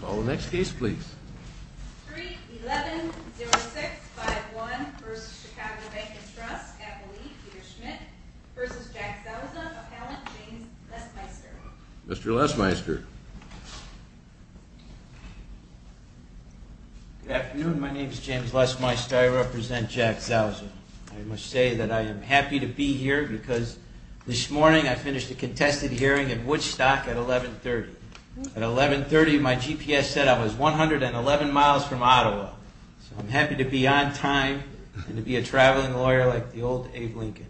Call the next case please. 3-11-06-51 v. Chicago Bank & Trust, Appellee Peter Schmidt v. Jack Zausa, Appellant James Lesmeister Mr. Lesmeister Good afternoon. My name is James Lesmeister. I represent Jack Zausa. I must say that I am happy to be here because this morning I finished a contested hearing at Woodstock at 1130. At 1130 my GPS said I was 111 miles from Ottawa. So I'm happy to be on time and to be a traveling lawyer like the old Abe Lincoln.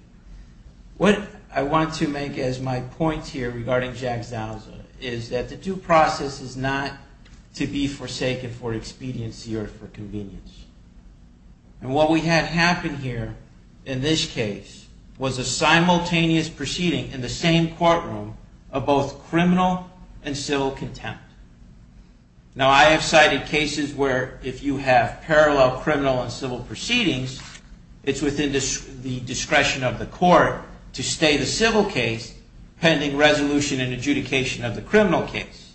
What I want to make as my point here regarding Jack Zausa is that the due process is not to be forsaken for expediency or for convenience. And what we had happen here in this case was a simultaneous proceeding in the same courtroom of both criminal and civil contempt. Now I have cited cases where if you have parallel criminal and civil proceedings, it's within the discretion of the court to stay the civil case pending resolution and adjudication of the criminal case.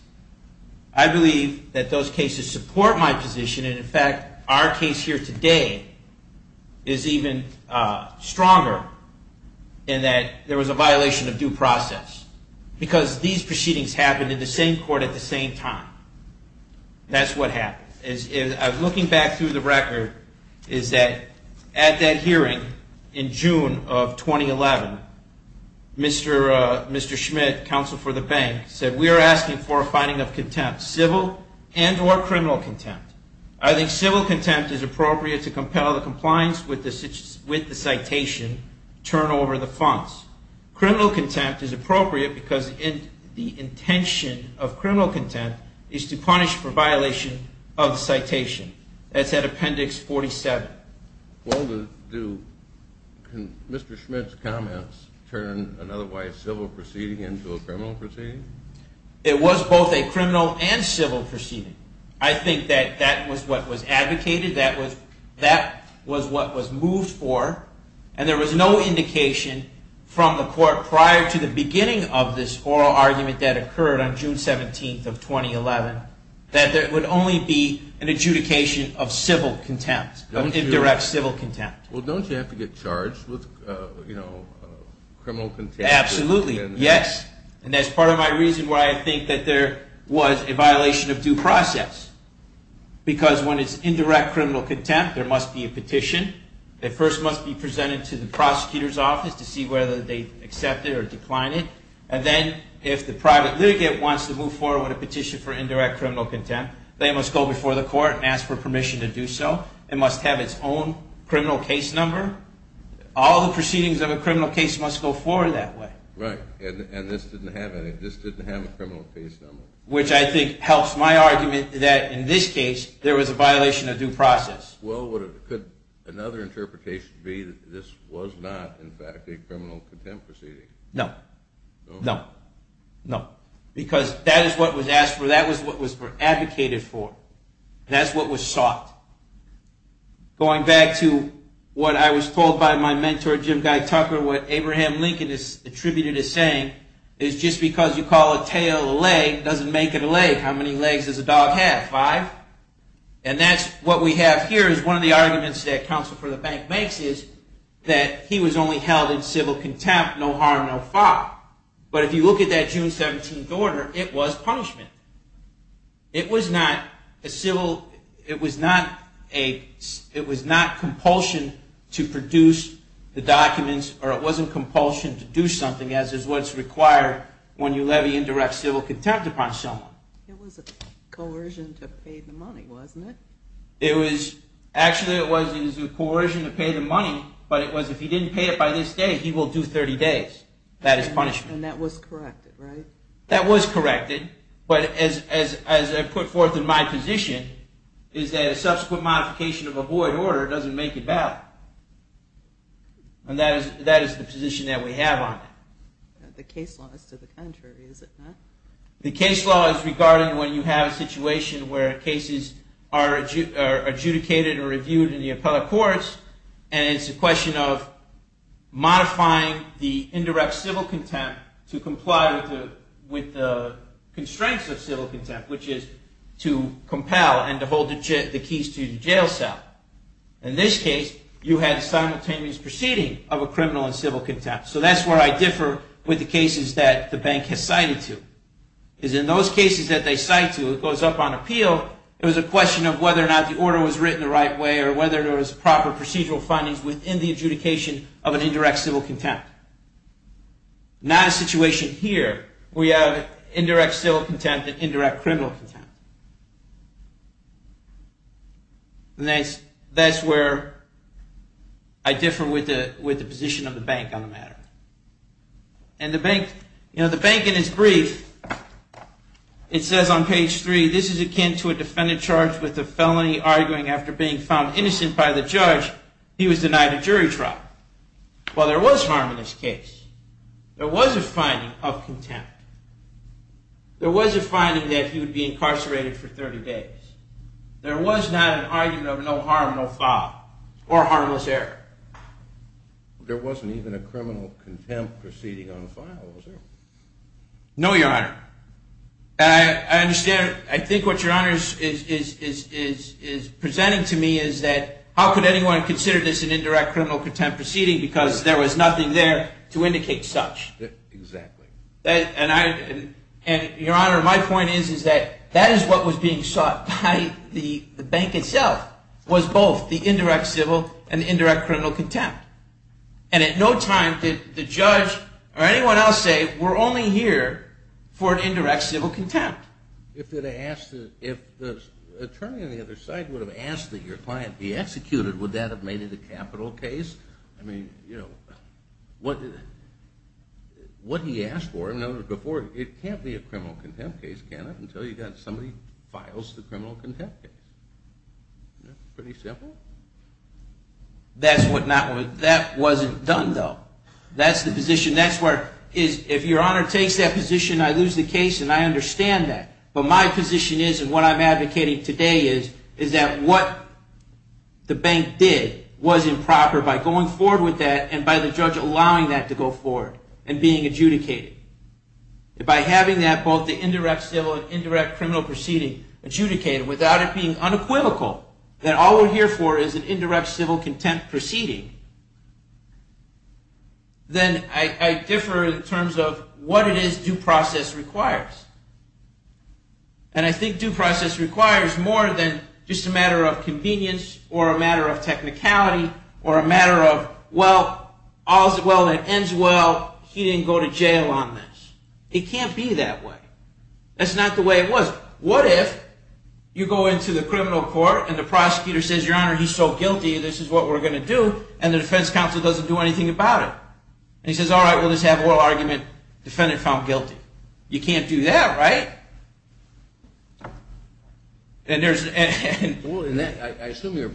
I believe that those cases support my position and in fact our case here today is even stronger in that there was a violation of due process. Because these proceedings happened in the same court at the same time. That's what happened. Looking back through the record is that at that hearing in June of 2011, Mr. Schmidt, counsel for the bank, said we are asking for a finding of contempt, civil and or criminal contempt. I think civil contempt is appropriate to compel the compliance with the citation turnover the funds. Criminal contempt is appropriate because the intention of criminal contempt is to punish for violation of citation. That's at appendix 47. Well do Mr. Schmidt's comments turn an otherwise civil proceeding into a criminal proceeding? It was both a criminal and civil proceeding. I think that that was what was advocated. That was what was moved for. And there was no indication from the court prior to the beginning of this oral argument that occurred on June 17th of 2011 that there would only be an adjudication of civil contempt, indirect civil contempt. Well don't you have to get charged with criminal contempt? Absolutely, yes. And that's part of my reason why I think that there was a violation of due process. Because when it's indirect criminal contempt, there must be a petition that first must be presented to the prosecutor's office to see whether they accept it or decline it. And then if the private litigant wants to move forward with a petition for indirect criminal contempt, they must go before the court and ask for permission to do so. It must have its own criminal case number. All the proceedings of a criminal case must go forward that way. Right. And this didn't have any. This didn't have a criminal case number. Which I think helps my argument that in this case, there was a violation of due process. Well, could another interpretation be that this was not, in fact, a criminal contempt proceeding? No. No? No. Because that is what was asked for. That was what was advocated for. That's what was sought. Going back to what I was told by my mentor, Jim Guy Tucker, what Abraham Lincoln attributed as saying is just because you call a tail a leg doesn't make it a leg. How many legs does a dog have? Five? And that's what we have here is one of the arguments that counsel for the bank makes is that he was only held in civil contempt, no harm, no fault. But if you look at that June 17th order, it was punishment. It was not a civil, it was not a, it was not compulsion to produce the documents, or it wasn't compulsion to do something, as is what's required when you levy indirect civil contempt upon someone. It was a coercion to pay the money, wasn't it? It was, actually it was a coercion to pay the money, but it was if he didn't pay it by this day, he will do 30 days. That is punishment. And that was corrected, right? That was corrected, but as I put forth in my position, is that a subsequent modification of a void order doesn't make it valid. And that is the position that we have on it. The case law is to the contrary, is it not? The case law is regarding when you have a situation where cases are adjudicated or reviewed in the appellate courts, and it's a question of modifying the indirect civil contempt to comply with the constraints of civil contempt, which is to compel and to hold the keys to the jail cell. In this case, you had a simultaneous proceeding of a criminal and civil contempt. So that's where I differ with the cases that the bank has cited to. Because in those cases that they cite to, it goes up on appeal, it was a question of whether or not the order was written the right way, or whether there was proper procedural findings within the adjudication of an indirect civil contempt. Not a situation here. We have indirect civil contempt and indirect criminal contempt. And that's where I differ with the position of the bank on the matter. And the bank, you know, the bank in its brief, it says on page three, this is akin to a defendant charged with a felony arguing after being found innocent by the judge, he was denied a jury trial. Well, there was harm in this case. There was a finding of contempt. There was a finding that he would be incarcerated for 30 days. There was not an argument of no harm, no foul, or harmless error. There wasn't even a criminal contempt proceeding on file, was there? No, Your Honor. I understand. I think what Your Honor is presenting to me is that how could anyone consider this an indirect criminal contempt proceeding, because there was nothing there to indicate such. Exactly. And Your Honor, my point is that that is what was being sought by the bank itself, was both the indirect civil and the indirect criminal contempt. And at no time did the judge or anyone else say, we're only here for an indirect civil contempt. If the attorney on the other side would have asked that your client be executed, would that have made it a capital case? I mean, you know, what he asked for, it can't be a criminal contempt case, can it, until somebody files the criminal contempt case. Pretty simple. That wasn't done, though. That's the position. If Your Honor takes that position, I lose the case, and I understand that. But my position is, and what I'm advocating today is, is that what the bank did was improper by going forward with that and by the judge allowing that to go forward and being adjudicated. By having that, both the indirect civil and indirect criminal proceeding, adjudicated without it being unequivocal, that all we're here for is an indirect civil contempt proceeding, then I differ in terms of what it is due process requires. And I think due process requires more than just a matter of convenience or a matter of technicality or a matter of, well, all's well that ends well, he didn't go to jail on this. It can't be that way. That's not the way it was. What if you go into the criminal court and the prosecutor says, Your Honor, he's so guilty, this is what we're going to do, and the defense counsel doesn't do anything about it? And he says, all right, we'll just have oral argument, defendant found guilty. You can't do that, right? I assume you're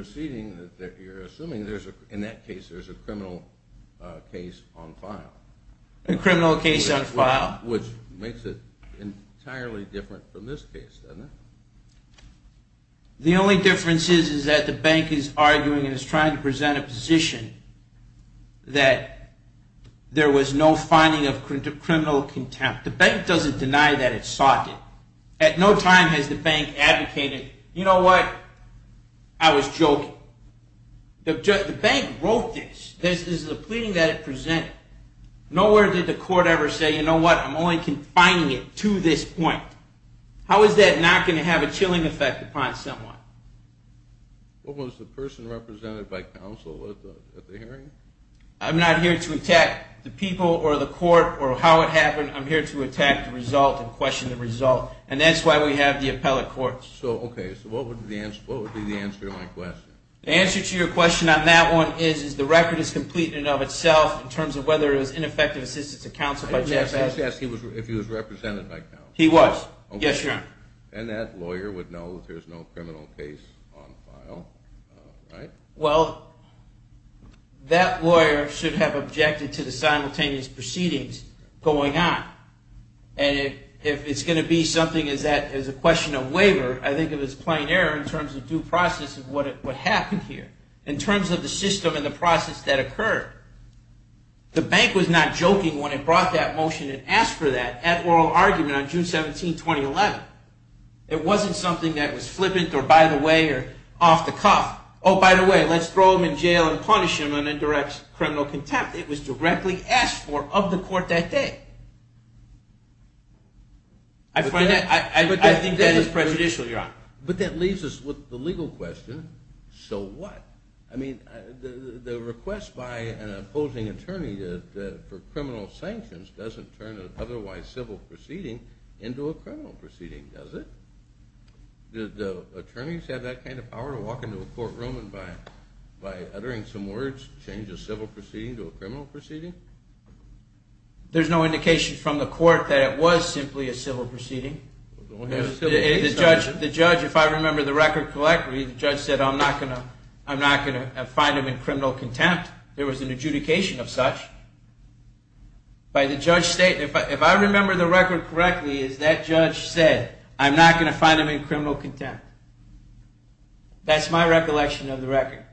assuming in that case there's a criminal case on file. A criminal case on file. Which makes it entirely different from this case, doesn't it? The only difference is that the bank is arguing and is trying to present a position that there was no finding of criminal contempt. The bank doesn't deny that itself. At no time has the bank advocated, you know what, I was joking. The bank wrote this. This is the pleading that it presented. Nowhere did the court ever say, you know what, I'm only confining it to this point. How is that not going to have a chilling effect upon someone? What was the person represented by counsel at the hearing? I'm not here to attack the people or the court or how it happened. I'm here to attack the result and question the result. And that's why we have the appellate courts. Okay. So what would be the answer to my question? The answer to your question on that one is the record is complete in and of itself in terms of whether it was ineffective assistance of counsel. I just asked if he was represented by counsel. He was. Yes, Your Honor. And that lawyer would know that there's no criminal case on file, right? Well, that lawyer should have objected to the simultaneous proceedings going on. And if it's going to be something as a question of waiver, I think it was plain error in terms of due process of what happened here, in terms of the system and the process that occurred. The bank was not joking when it brought that motion and asked for that at oral argument on June 17, 2011. It wasn't something that was flippant or by the way or off the cuff. Oh, by the way, let's throw him in jail and punish him on indirect criminal contempt. It was directly asked for of the court that day. I think that is prejudicial, Your Honor. But that leaves us with the legal question, so what? I mean, the request by an opposing attorney for criminal sanctions doesn't turn an otherwise civil proceeding into a criminal proceeding, does it? Did the attorneys have that kind of power to walk into a courtroom and by uttering some words change a civil proceeding to a criminal proceeding? There's no indication from the court that it was simply a civil proceeding. The judge, if I remember the record correctly, the judge said, I'm not going to find him in criminal contempt. There was an adjudication of such. If I remember the record correctly, is that judge said, I'm not going to find him in criminal contempt. That's my recollection of the record.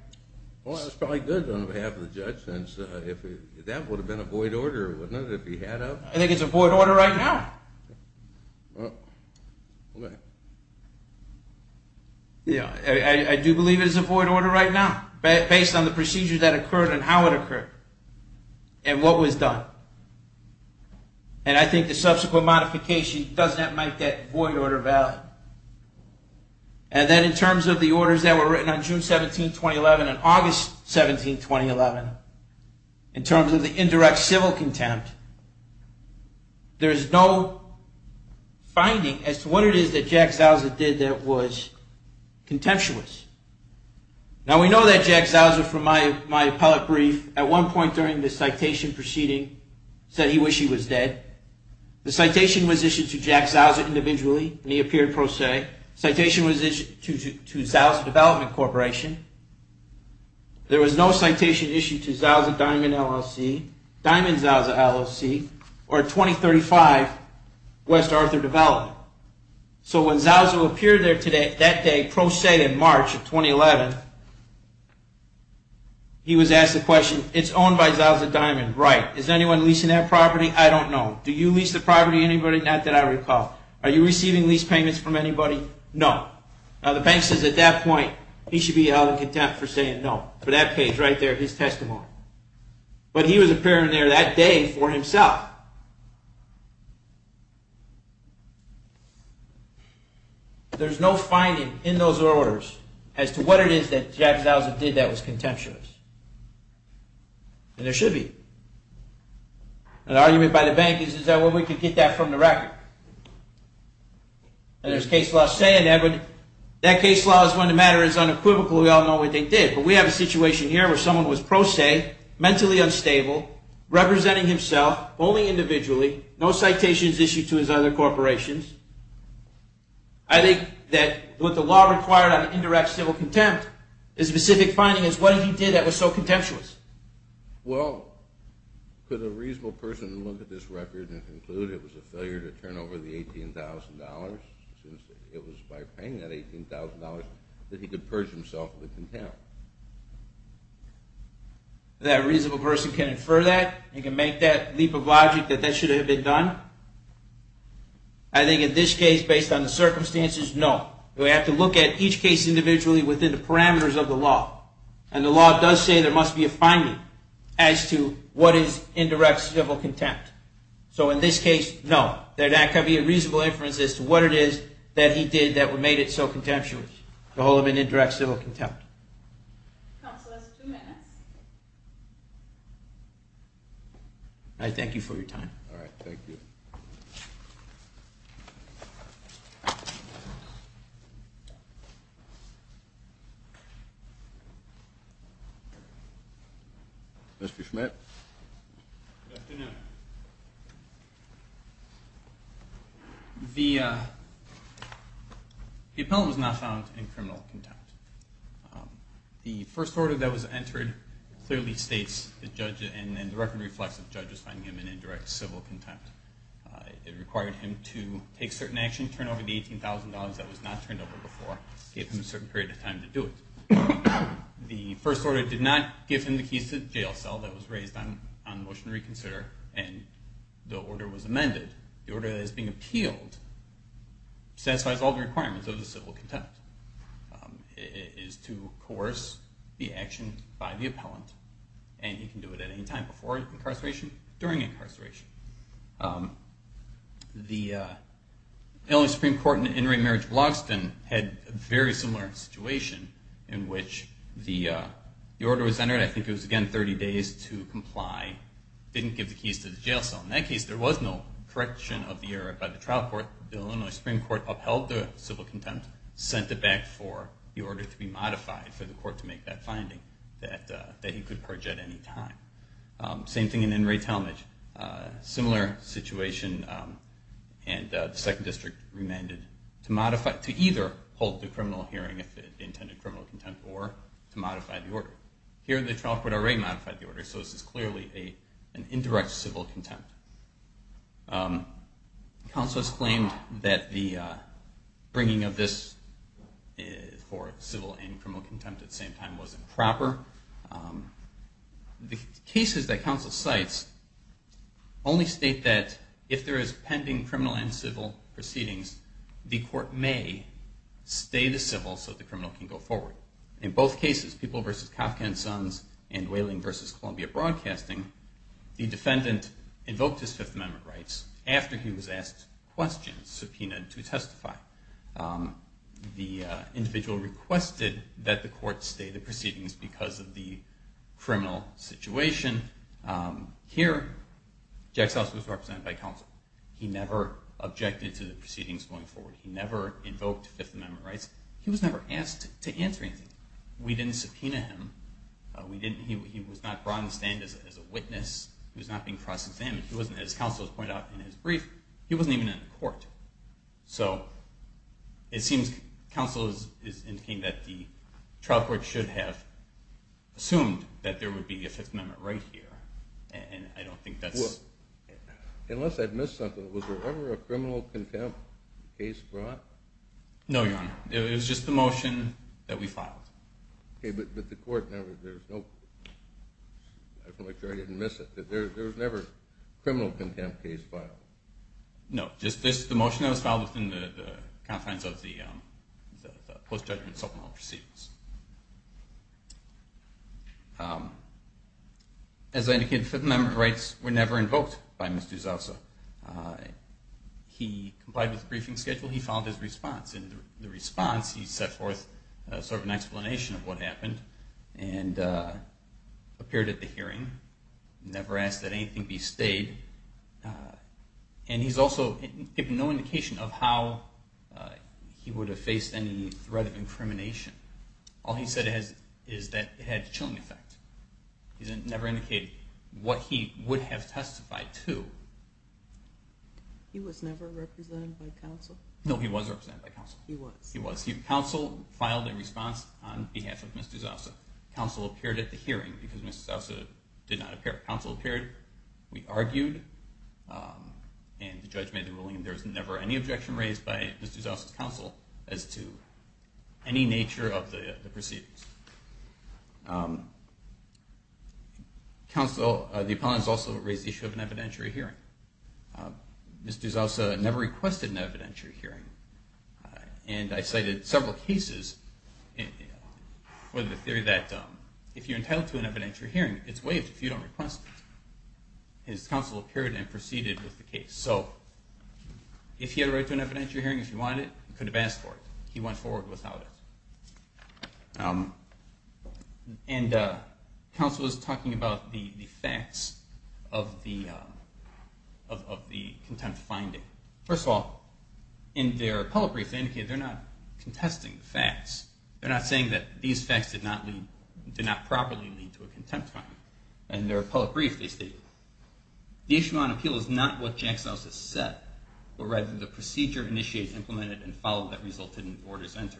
Well, that's probably good on behalf of the judge, since that would have been a void order, wouldn't it, if he had of? I think it's a void order right now. I do believe it is a void order right now, based on the procedures that occurred and how it occurred and what was done. And I think the subsequent modification does not make that void order valid. And then in terms of the orders that were written on June 17, 2011 and August 17, 2011, in terms of the indirect civil contempt, there's no finding as to what it is that Jack Zauser did that was contemptuous. Now, we know that Jack Zauser, from my appellate brief, at one point during the citation proceeding, said he wished he was dead. The citation was issued to Jack Zauser individually, and he appeared pro se. Citation was issued to Zauser Development Corporation. There was no citation issued to Zauser Diamond LLC, Diamond Zauser LLC, or 2035 West Arthur Development. So when Zauser appeared there that day, pro se in March of 2011, he was asked the question, it's owned by Zauser Diamond, right. Is anyone leasing that property? I don't know. Do you lease the property, anybody? Not that I recall. Are you receiving lease payments from anybody? No. Now, the bank says at that point he should be held in contempt for saying no, for that page right there, his testimony. But he was appearing there that day for himself. Now, there's no finding in those orders as to what it is that Jack Zauser did that was contemptuous. And there should be. An argument by the bank is, is there a way we can get that from the record? And there's case law saying that case law is when the matter is unequivocal, we all know what they did. But we have a situation here where someone was pro se, mentally unstable, representing himself only individually, no citations issued to his other corporations. I think that what the law required on indirect civil contempt, the specific finding is what he did that was so contemptuous. Well, could a reasonable person look at this record and conclude it was a failure to turn over the $18,000 since it was by paying that $18,000 that he could purge himself of the contempt? That a reasonable person can infer that? You can make that leap of logic that that should have been done? I think in this case, based on the circumstances, no. We have to look at each case individually within the parameters of the law. And the law does say there must be a finding as to what is indirect civil contempt. So in this case, no. That could be a reasonable inference as to what it is that he did that made it so contemptuous, the whole of an indirect civil contempt. Counsel has two minutes. I thank you for your time. All right, thank you. Mr. Schmidt. Good afternoon. The appellant was not found in criminal contempt. The first order that was entered clearly states, and the record reflects that the judge was finding him in indirect civil contempt. It required him to take certain action, turn over the $18,000 that was not turned over before, give him a certain period of time to do it. The first order did not give him the keys to the jail cell that was raised on the motion to reconsider, and the order was amended. The order that is being appealed satisfies all the requirements of the civil contempt. It is to coerce the action by the appellant, and you can do it at any time before incarceration, during incarceration. The Supreme Court in In re Marriage of Logston had a very similar situation in which the order was entered. I think it was, again, 30 days to comply. It didn't give the keys to the jail cell. In that case, there was no correction of the error by the trial court. The Illinois Supreme Court upheld the civil contempt, sent it back for the order to be modified for the court to make that finding that he could purge at any time. Same thing in In re Talmadge. Similar situation, and the second district remanded to either hold the criminal hearing if it intended criminal contempt or to modify the order. Here, the trial court already modified the order, so this is clearly an indirect civil contempt. Counselors claimed that the bringing of this for civil and criminal contempt at the same time wasn't proper. The cases that counsel cites only state that if there is pending criminal and civil proceedings, the court may stay the civil so the criminal can go forward. In both cases, People v. Kafka and Sons and Whaling v. Columbia Broadcasting, the defendant invoked his Fifth Amendment rights after he was asked questions, subpoenaed to testify. The individual requested that the court stay the proceedings because of the criminal situation. Here, Jacks House was represented by counsel. He never objected to the proceedings going forward. He never invoked Fifth Amendment rights. He was never asked to answer anything. We didn't subpoena him. He was not brought to stand as a witness. He was not being cross-examined. As counsel has pointed out in his brief, he wasn't even in court. So it seems counsel is indicating that the trial court should have assumed that there would be a Fifth Amendment right here, and I don't think that's... Unless I've missed something. Was there ever a criminal contempt case brought? No, Your Honor. It was just the motion that we filed. Okay, but the court never... I feel like I didn't miss it. There was never a criminal contempt case filed. No. Just the motion that was filed within the confines of the post-judgment subpoena proceedings. As I indicated, Fifth Amendment rights were never invoked by Mr. D'Souza. He complied with the briefing schedule. He followed his response. In the response, he set forth sort of an explanation of what happened and appeared at the hearing, never asked that anything be stayed. And he's also given no indication of how he would have faced any threat of incrimination. All he said is that it had a chilling effect. He never indicated what he would have testified to. He was never represented by counsel? No, he was represented by counsel. He was. He was. Counsel filed a response on behalf of Mr. D'Souza. Counsel appeared at the hearing because Mr. D'Souza did not appear. Counsel appeared. We argued, and the judge made the ruling. There was never any objection raised by Mr. D'Souza's counsel as to any nature of the proceedings. The opponents also raised the issue of an evidentiary hearing. Mr. D'Souza never requested an evidentiary hearing. And I cited several cases with the theory that if you're entitled to an evidentiary hearing, it's waived if you don't request it. His counsel appeared and proceeded with the case. So if he had a right to an evidentiary hearing, if he wanted it, he could have asked for it. He went forward without it. And counsel was talking about the facts of the contempt finding. First of all, in their public brief, they indicated they're not contesting the facts. They're not saying that these facts did not properly lead to a contempt finding. In their public brief, they stated, the issue on appeal is not what Jackson House has said, but rather the procedure initiated, implemented, and followed that resulted in orders entered.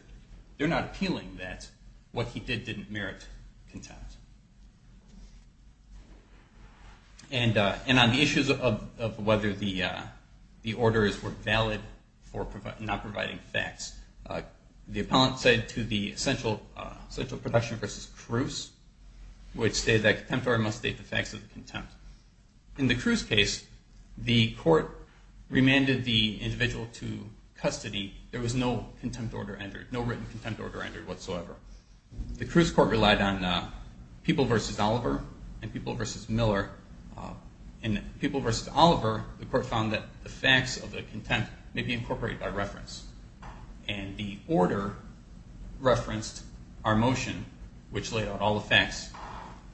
They're not appealing that what he did didn't merit contempt. And on the issues of whether the orders were valid for not providing facts, the appellant said to the essential protection versus Cruz, which stated that contempt must state the facts of the contempt. In the Cruz case, the court remanded the individual to custody. There was no written contempt order entered whatsoever. The Cruz court relied on People v. Oliver and People v. Miller. In People v. Oliver, the court found that the facts of the contempt may be incorporated by reference. And the order referenced our motion, which laid out all the facts.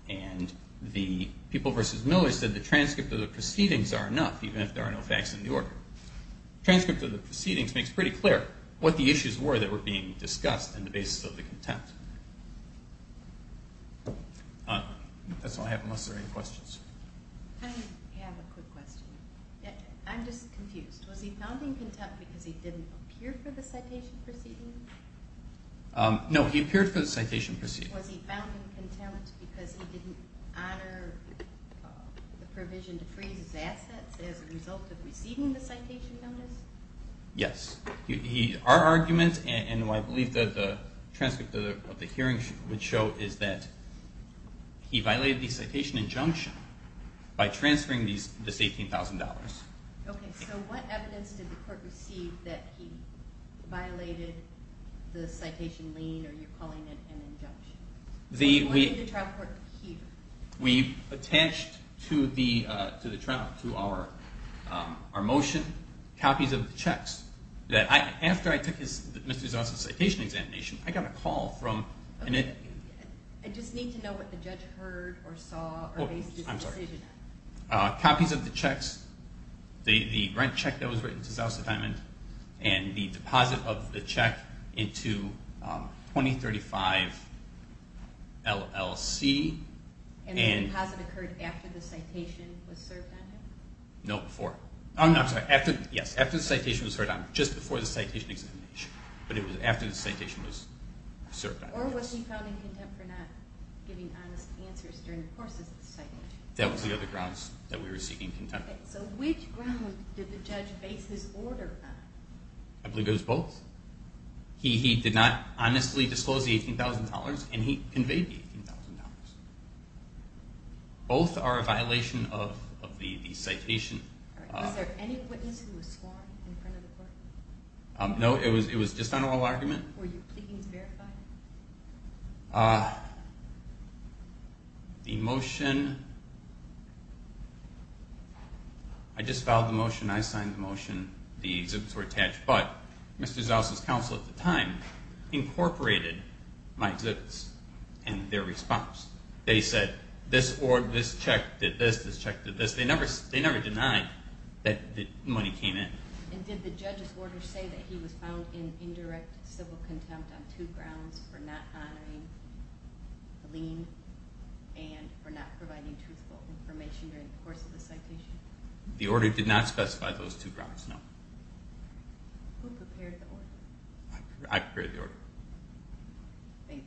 And the People v. Miller said the transcript of the proceedings are enough, even if there are no facts in the order. The transcript of the proceedings makes pretty clear what the issues were that were being discussed in the basis of the contempt. That's all I have, unless there are any questions. I have a quick question. I'm just confused. Was he found in contempt because he didn't appear for the citation proceeding? No, he appeared for the citation proceeding. Was he found in contempt because he didn't honor the provision to freeze his assets as a result of receiving the citation notice? Yes. Our argument, and what I believe the transcript of the hearing would show, is that he violated the citation injunction by transferring this $18,000. Okay, so what evidence did the court receive that he violated the citation lien, or you're calling it an injunction? What did the trial court hear? We attached to the trial, to our motion, copies of the checks. After I took Mr. Zonson's citation examination, I got a call from... I just need to know what the judge heard or saw or based his decision on. Copies of the checks, the rent check that was written to Zelsa Diamond, and the deposit of the check into 2035 LLC. And the deposit occurred after the citation was served on him? No, before. I'm sorry, after the citation was served on him, just before the citation examination. But it was after the citation was served on him. Or was he found in contempt for not giving honest answers during the course of the citation? No, that was the other grounds that we were seeking contempt. Okay, so which grounds did the judge base his order on? I believe it was both. He did not honestly disclose the $18,000, and he conveyed the $18,000. Both are a violation of the citation. Was there any witness who was sworn in front of the court? No, it was just on oral argument. Were you pleading to verify? The motion, I just filed the motion, I signed the motion, the exhibits were attached. But Mr. Zelsa's counsel at the time incorporated my exhibits and their response. They said this check did this, this check did this. They never denied that money came in. And did the judge's order say that he was found in indirect civil contempt on two grounds, for not honoring the lien and for not providing truthful information during the course of the citation? The order did not specify those two grounds, no. Who prepared the order? I prepared the order. Thank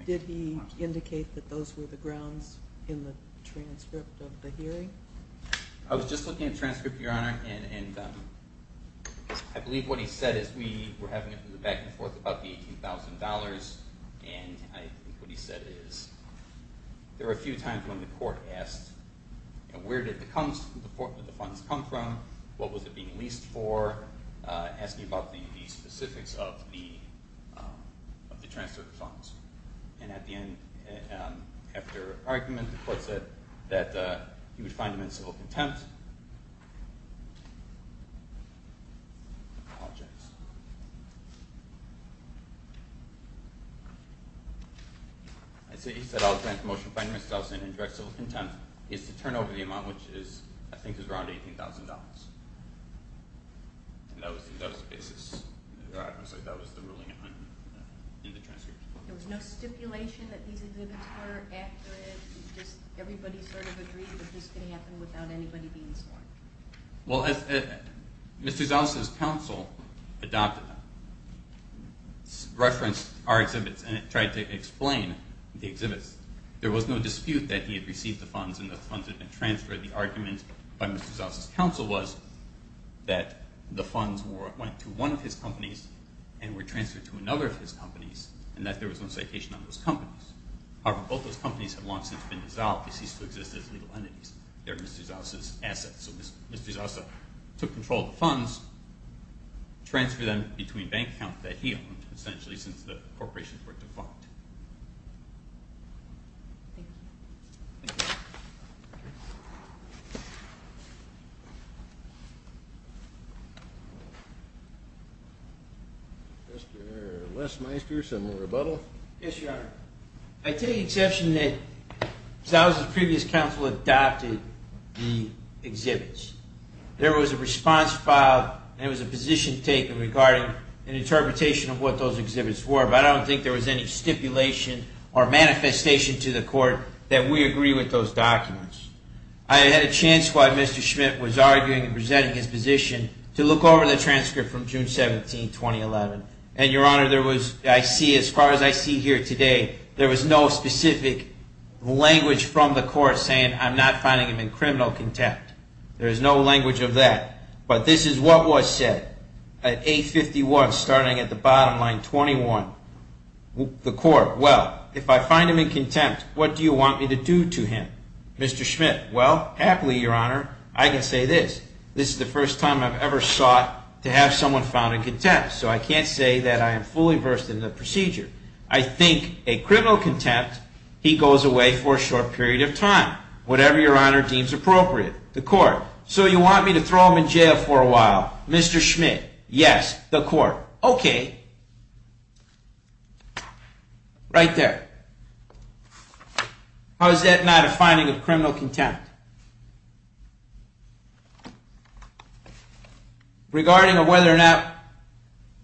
you. Did he indicate that those were the grounds in the transcript of the hearing? I was just looking at the transcript, Your Honor. And I believe what he said is we were having it back and forth about the $18,000. And I think what he said is there were a few times when the court asked where did the funds come from, what was it being leased for, asking about the specifics of the transfer of funds. And at the end, after argument, the court said that he would find him in civil contempt. He said I'll grant the motion to find Mr. Zelsa in indirect civil contempt is to turn over the amount, which I think is around $18,000. And that was the basis. That was the ruling in the transcript. There was no stipulation that these exhibits were accurate? Just everybody sort of agreed that this could happen without anybody being sworn? Well, Mr. Zelsa's counsel referenced our exhibits and tried to explain the exhibits. There was no dispute that he had received the funds and the funds had been transferred. The argument by Mr. Zelsa's counsel was that the funds went to one of his companies and were transferred to another of his companies and that there was no citation on those companies. However, both those companies had long since been dissolved. They ceased to exist as legal entities. They were Mr. Zelsa's assets. So Mr. Zelsa took control of the funds, transferred them between bank accounts that he owned, essentially, since the corporations were defunct. Mr. Lesmeister, some rebuttal? Yes, Your Honor. I take the exception that Mr. Zelsa's previous counsel adopted the exhibits. There was a response filed and it was a position taken regarding an interpretation of what those exhibits were, but I don't think there was any stipulation or manifestation to the court that we agree with those documents. I had a chance while Mr. Schmidt was arguing and presenting his position to look over the transcript from June 17, 2011. And, Your Honor, as far as I see here today, there was no specific language from the court saying, I'm not finding him in criminal contempt. There is no language of that. But this is what was said at 851, starting at the bottom line, 21. The court, well, if I find him in contempt, what do you want me to do to him? Mr. Schmidt, well, happily, Your Honor, I can say this, this is the first time I've ever sought to have someone found in contempt, so I can't say that I am fully versed in the procedure. I think a criminal contempt, he goes away for a short period of time, whatever Your Honor deems appropriate. The court, so you want me to throw him in jail for a while? Mr. Schmidt, yes. The court, okay. Right there. How is that not a finding of criminal contempt? Regarding whether or not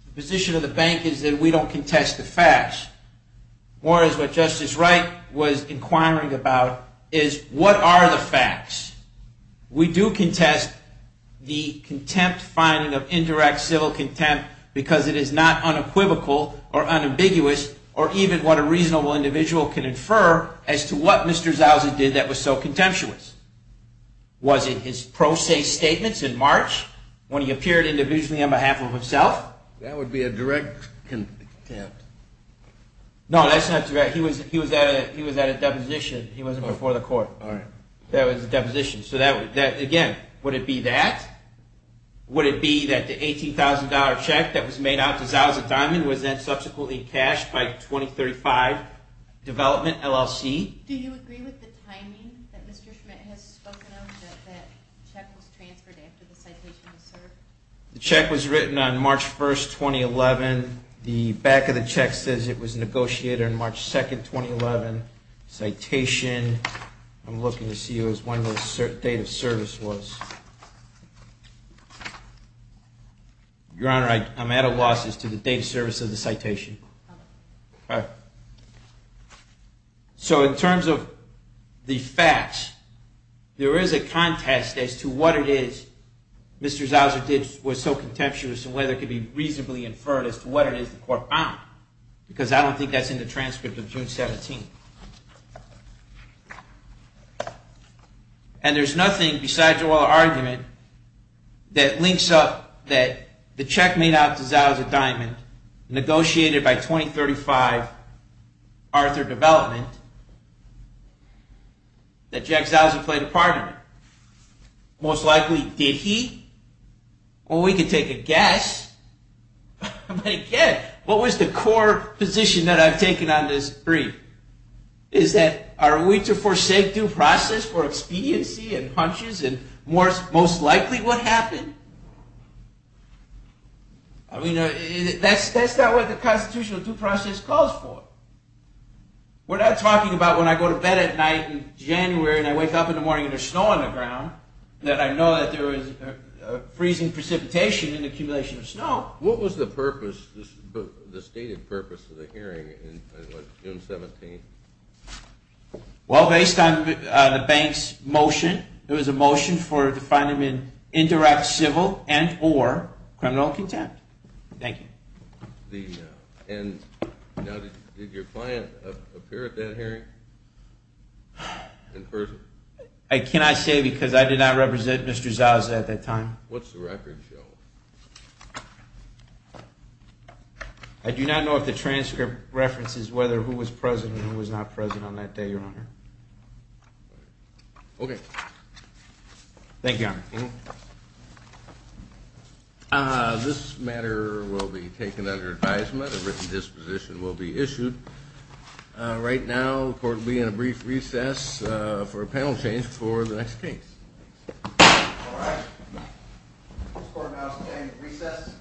the position of the bank is that we don't contest the facts, more is what Justice Wright was inquiring about, is what are the facts? We do contest the contempt finding of indirect civil contempt because it is not unequivocal or unambiguous or even what a reasonable individual can infer as to what Mr. Zousy did that was so contemptuous. Was it his pro se statements in March when he appeared individually on behalf of himself? That would be a direct contempt. No, that's not direct. He was at a deposition. He wasn't before the court. All right. That was a deposition. So again, would it be that? Would it be that the $18,000 check that was made out to Zousy Diamond was then subsequently cashed by 2035 Development LLC? Do you agree with the timing that Mr. Schmidt has spoken of that that check was transferred after the citation was served? The check was written on March 1, 2011. The back of the check says it was negotiated on March 2, 2011. Citation. I'm looking to see what his date of service was. Your Honor, I'm at a loss as to the date of service of the citation. All right. So in terms of the facts, there is a contest as to what it is Mr. Zousy did was so contemptuous and whether it could be reasonably inferred as to what it is the court found because I don't think that's in the transcript of June 17th. And there's nothing besides your argument that links up that the check made out to Zousy Diamond negotiated by 2035 Arthur Development that Jack Zousy played a part in it. Most likely did he? Well, we can take a guess. But again, what was the core position that I've taken on this brief? Is that are we to forsake due process for expediency and punches and most likely what happened? I mean, that's not what the constitutional due process calls for. We're not talking about when I go to bed at night in January and I wake up in the morning and there's snow on the ground that I know that there was freezing precipitation and accumulation of snow. What was the purpose, the stated purpose of the hearing on June 17th? Well, based on the bank's motion, it was a motion to find him in indirect civil and or criminal contempt. Thank you. And did your client appear at that hearing in person? I cannot say because I did not represent Mr. Zousy at that time. What's the record show? I do not know if the transcript references whether who was present and who was not present on that day, Your Honor. Okay. Thank you, Your Honor. This matter will be taken under advisement. A written disposition will be issued. Right now the court will be in a brief recess for a panel change for the next case. All right. This court now is in recess.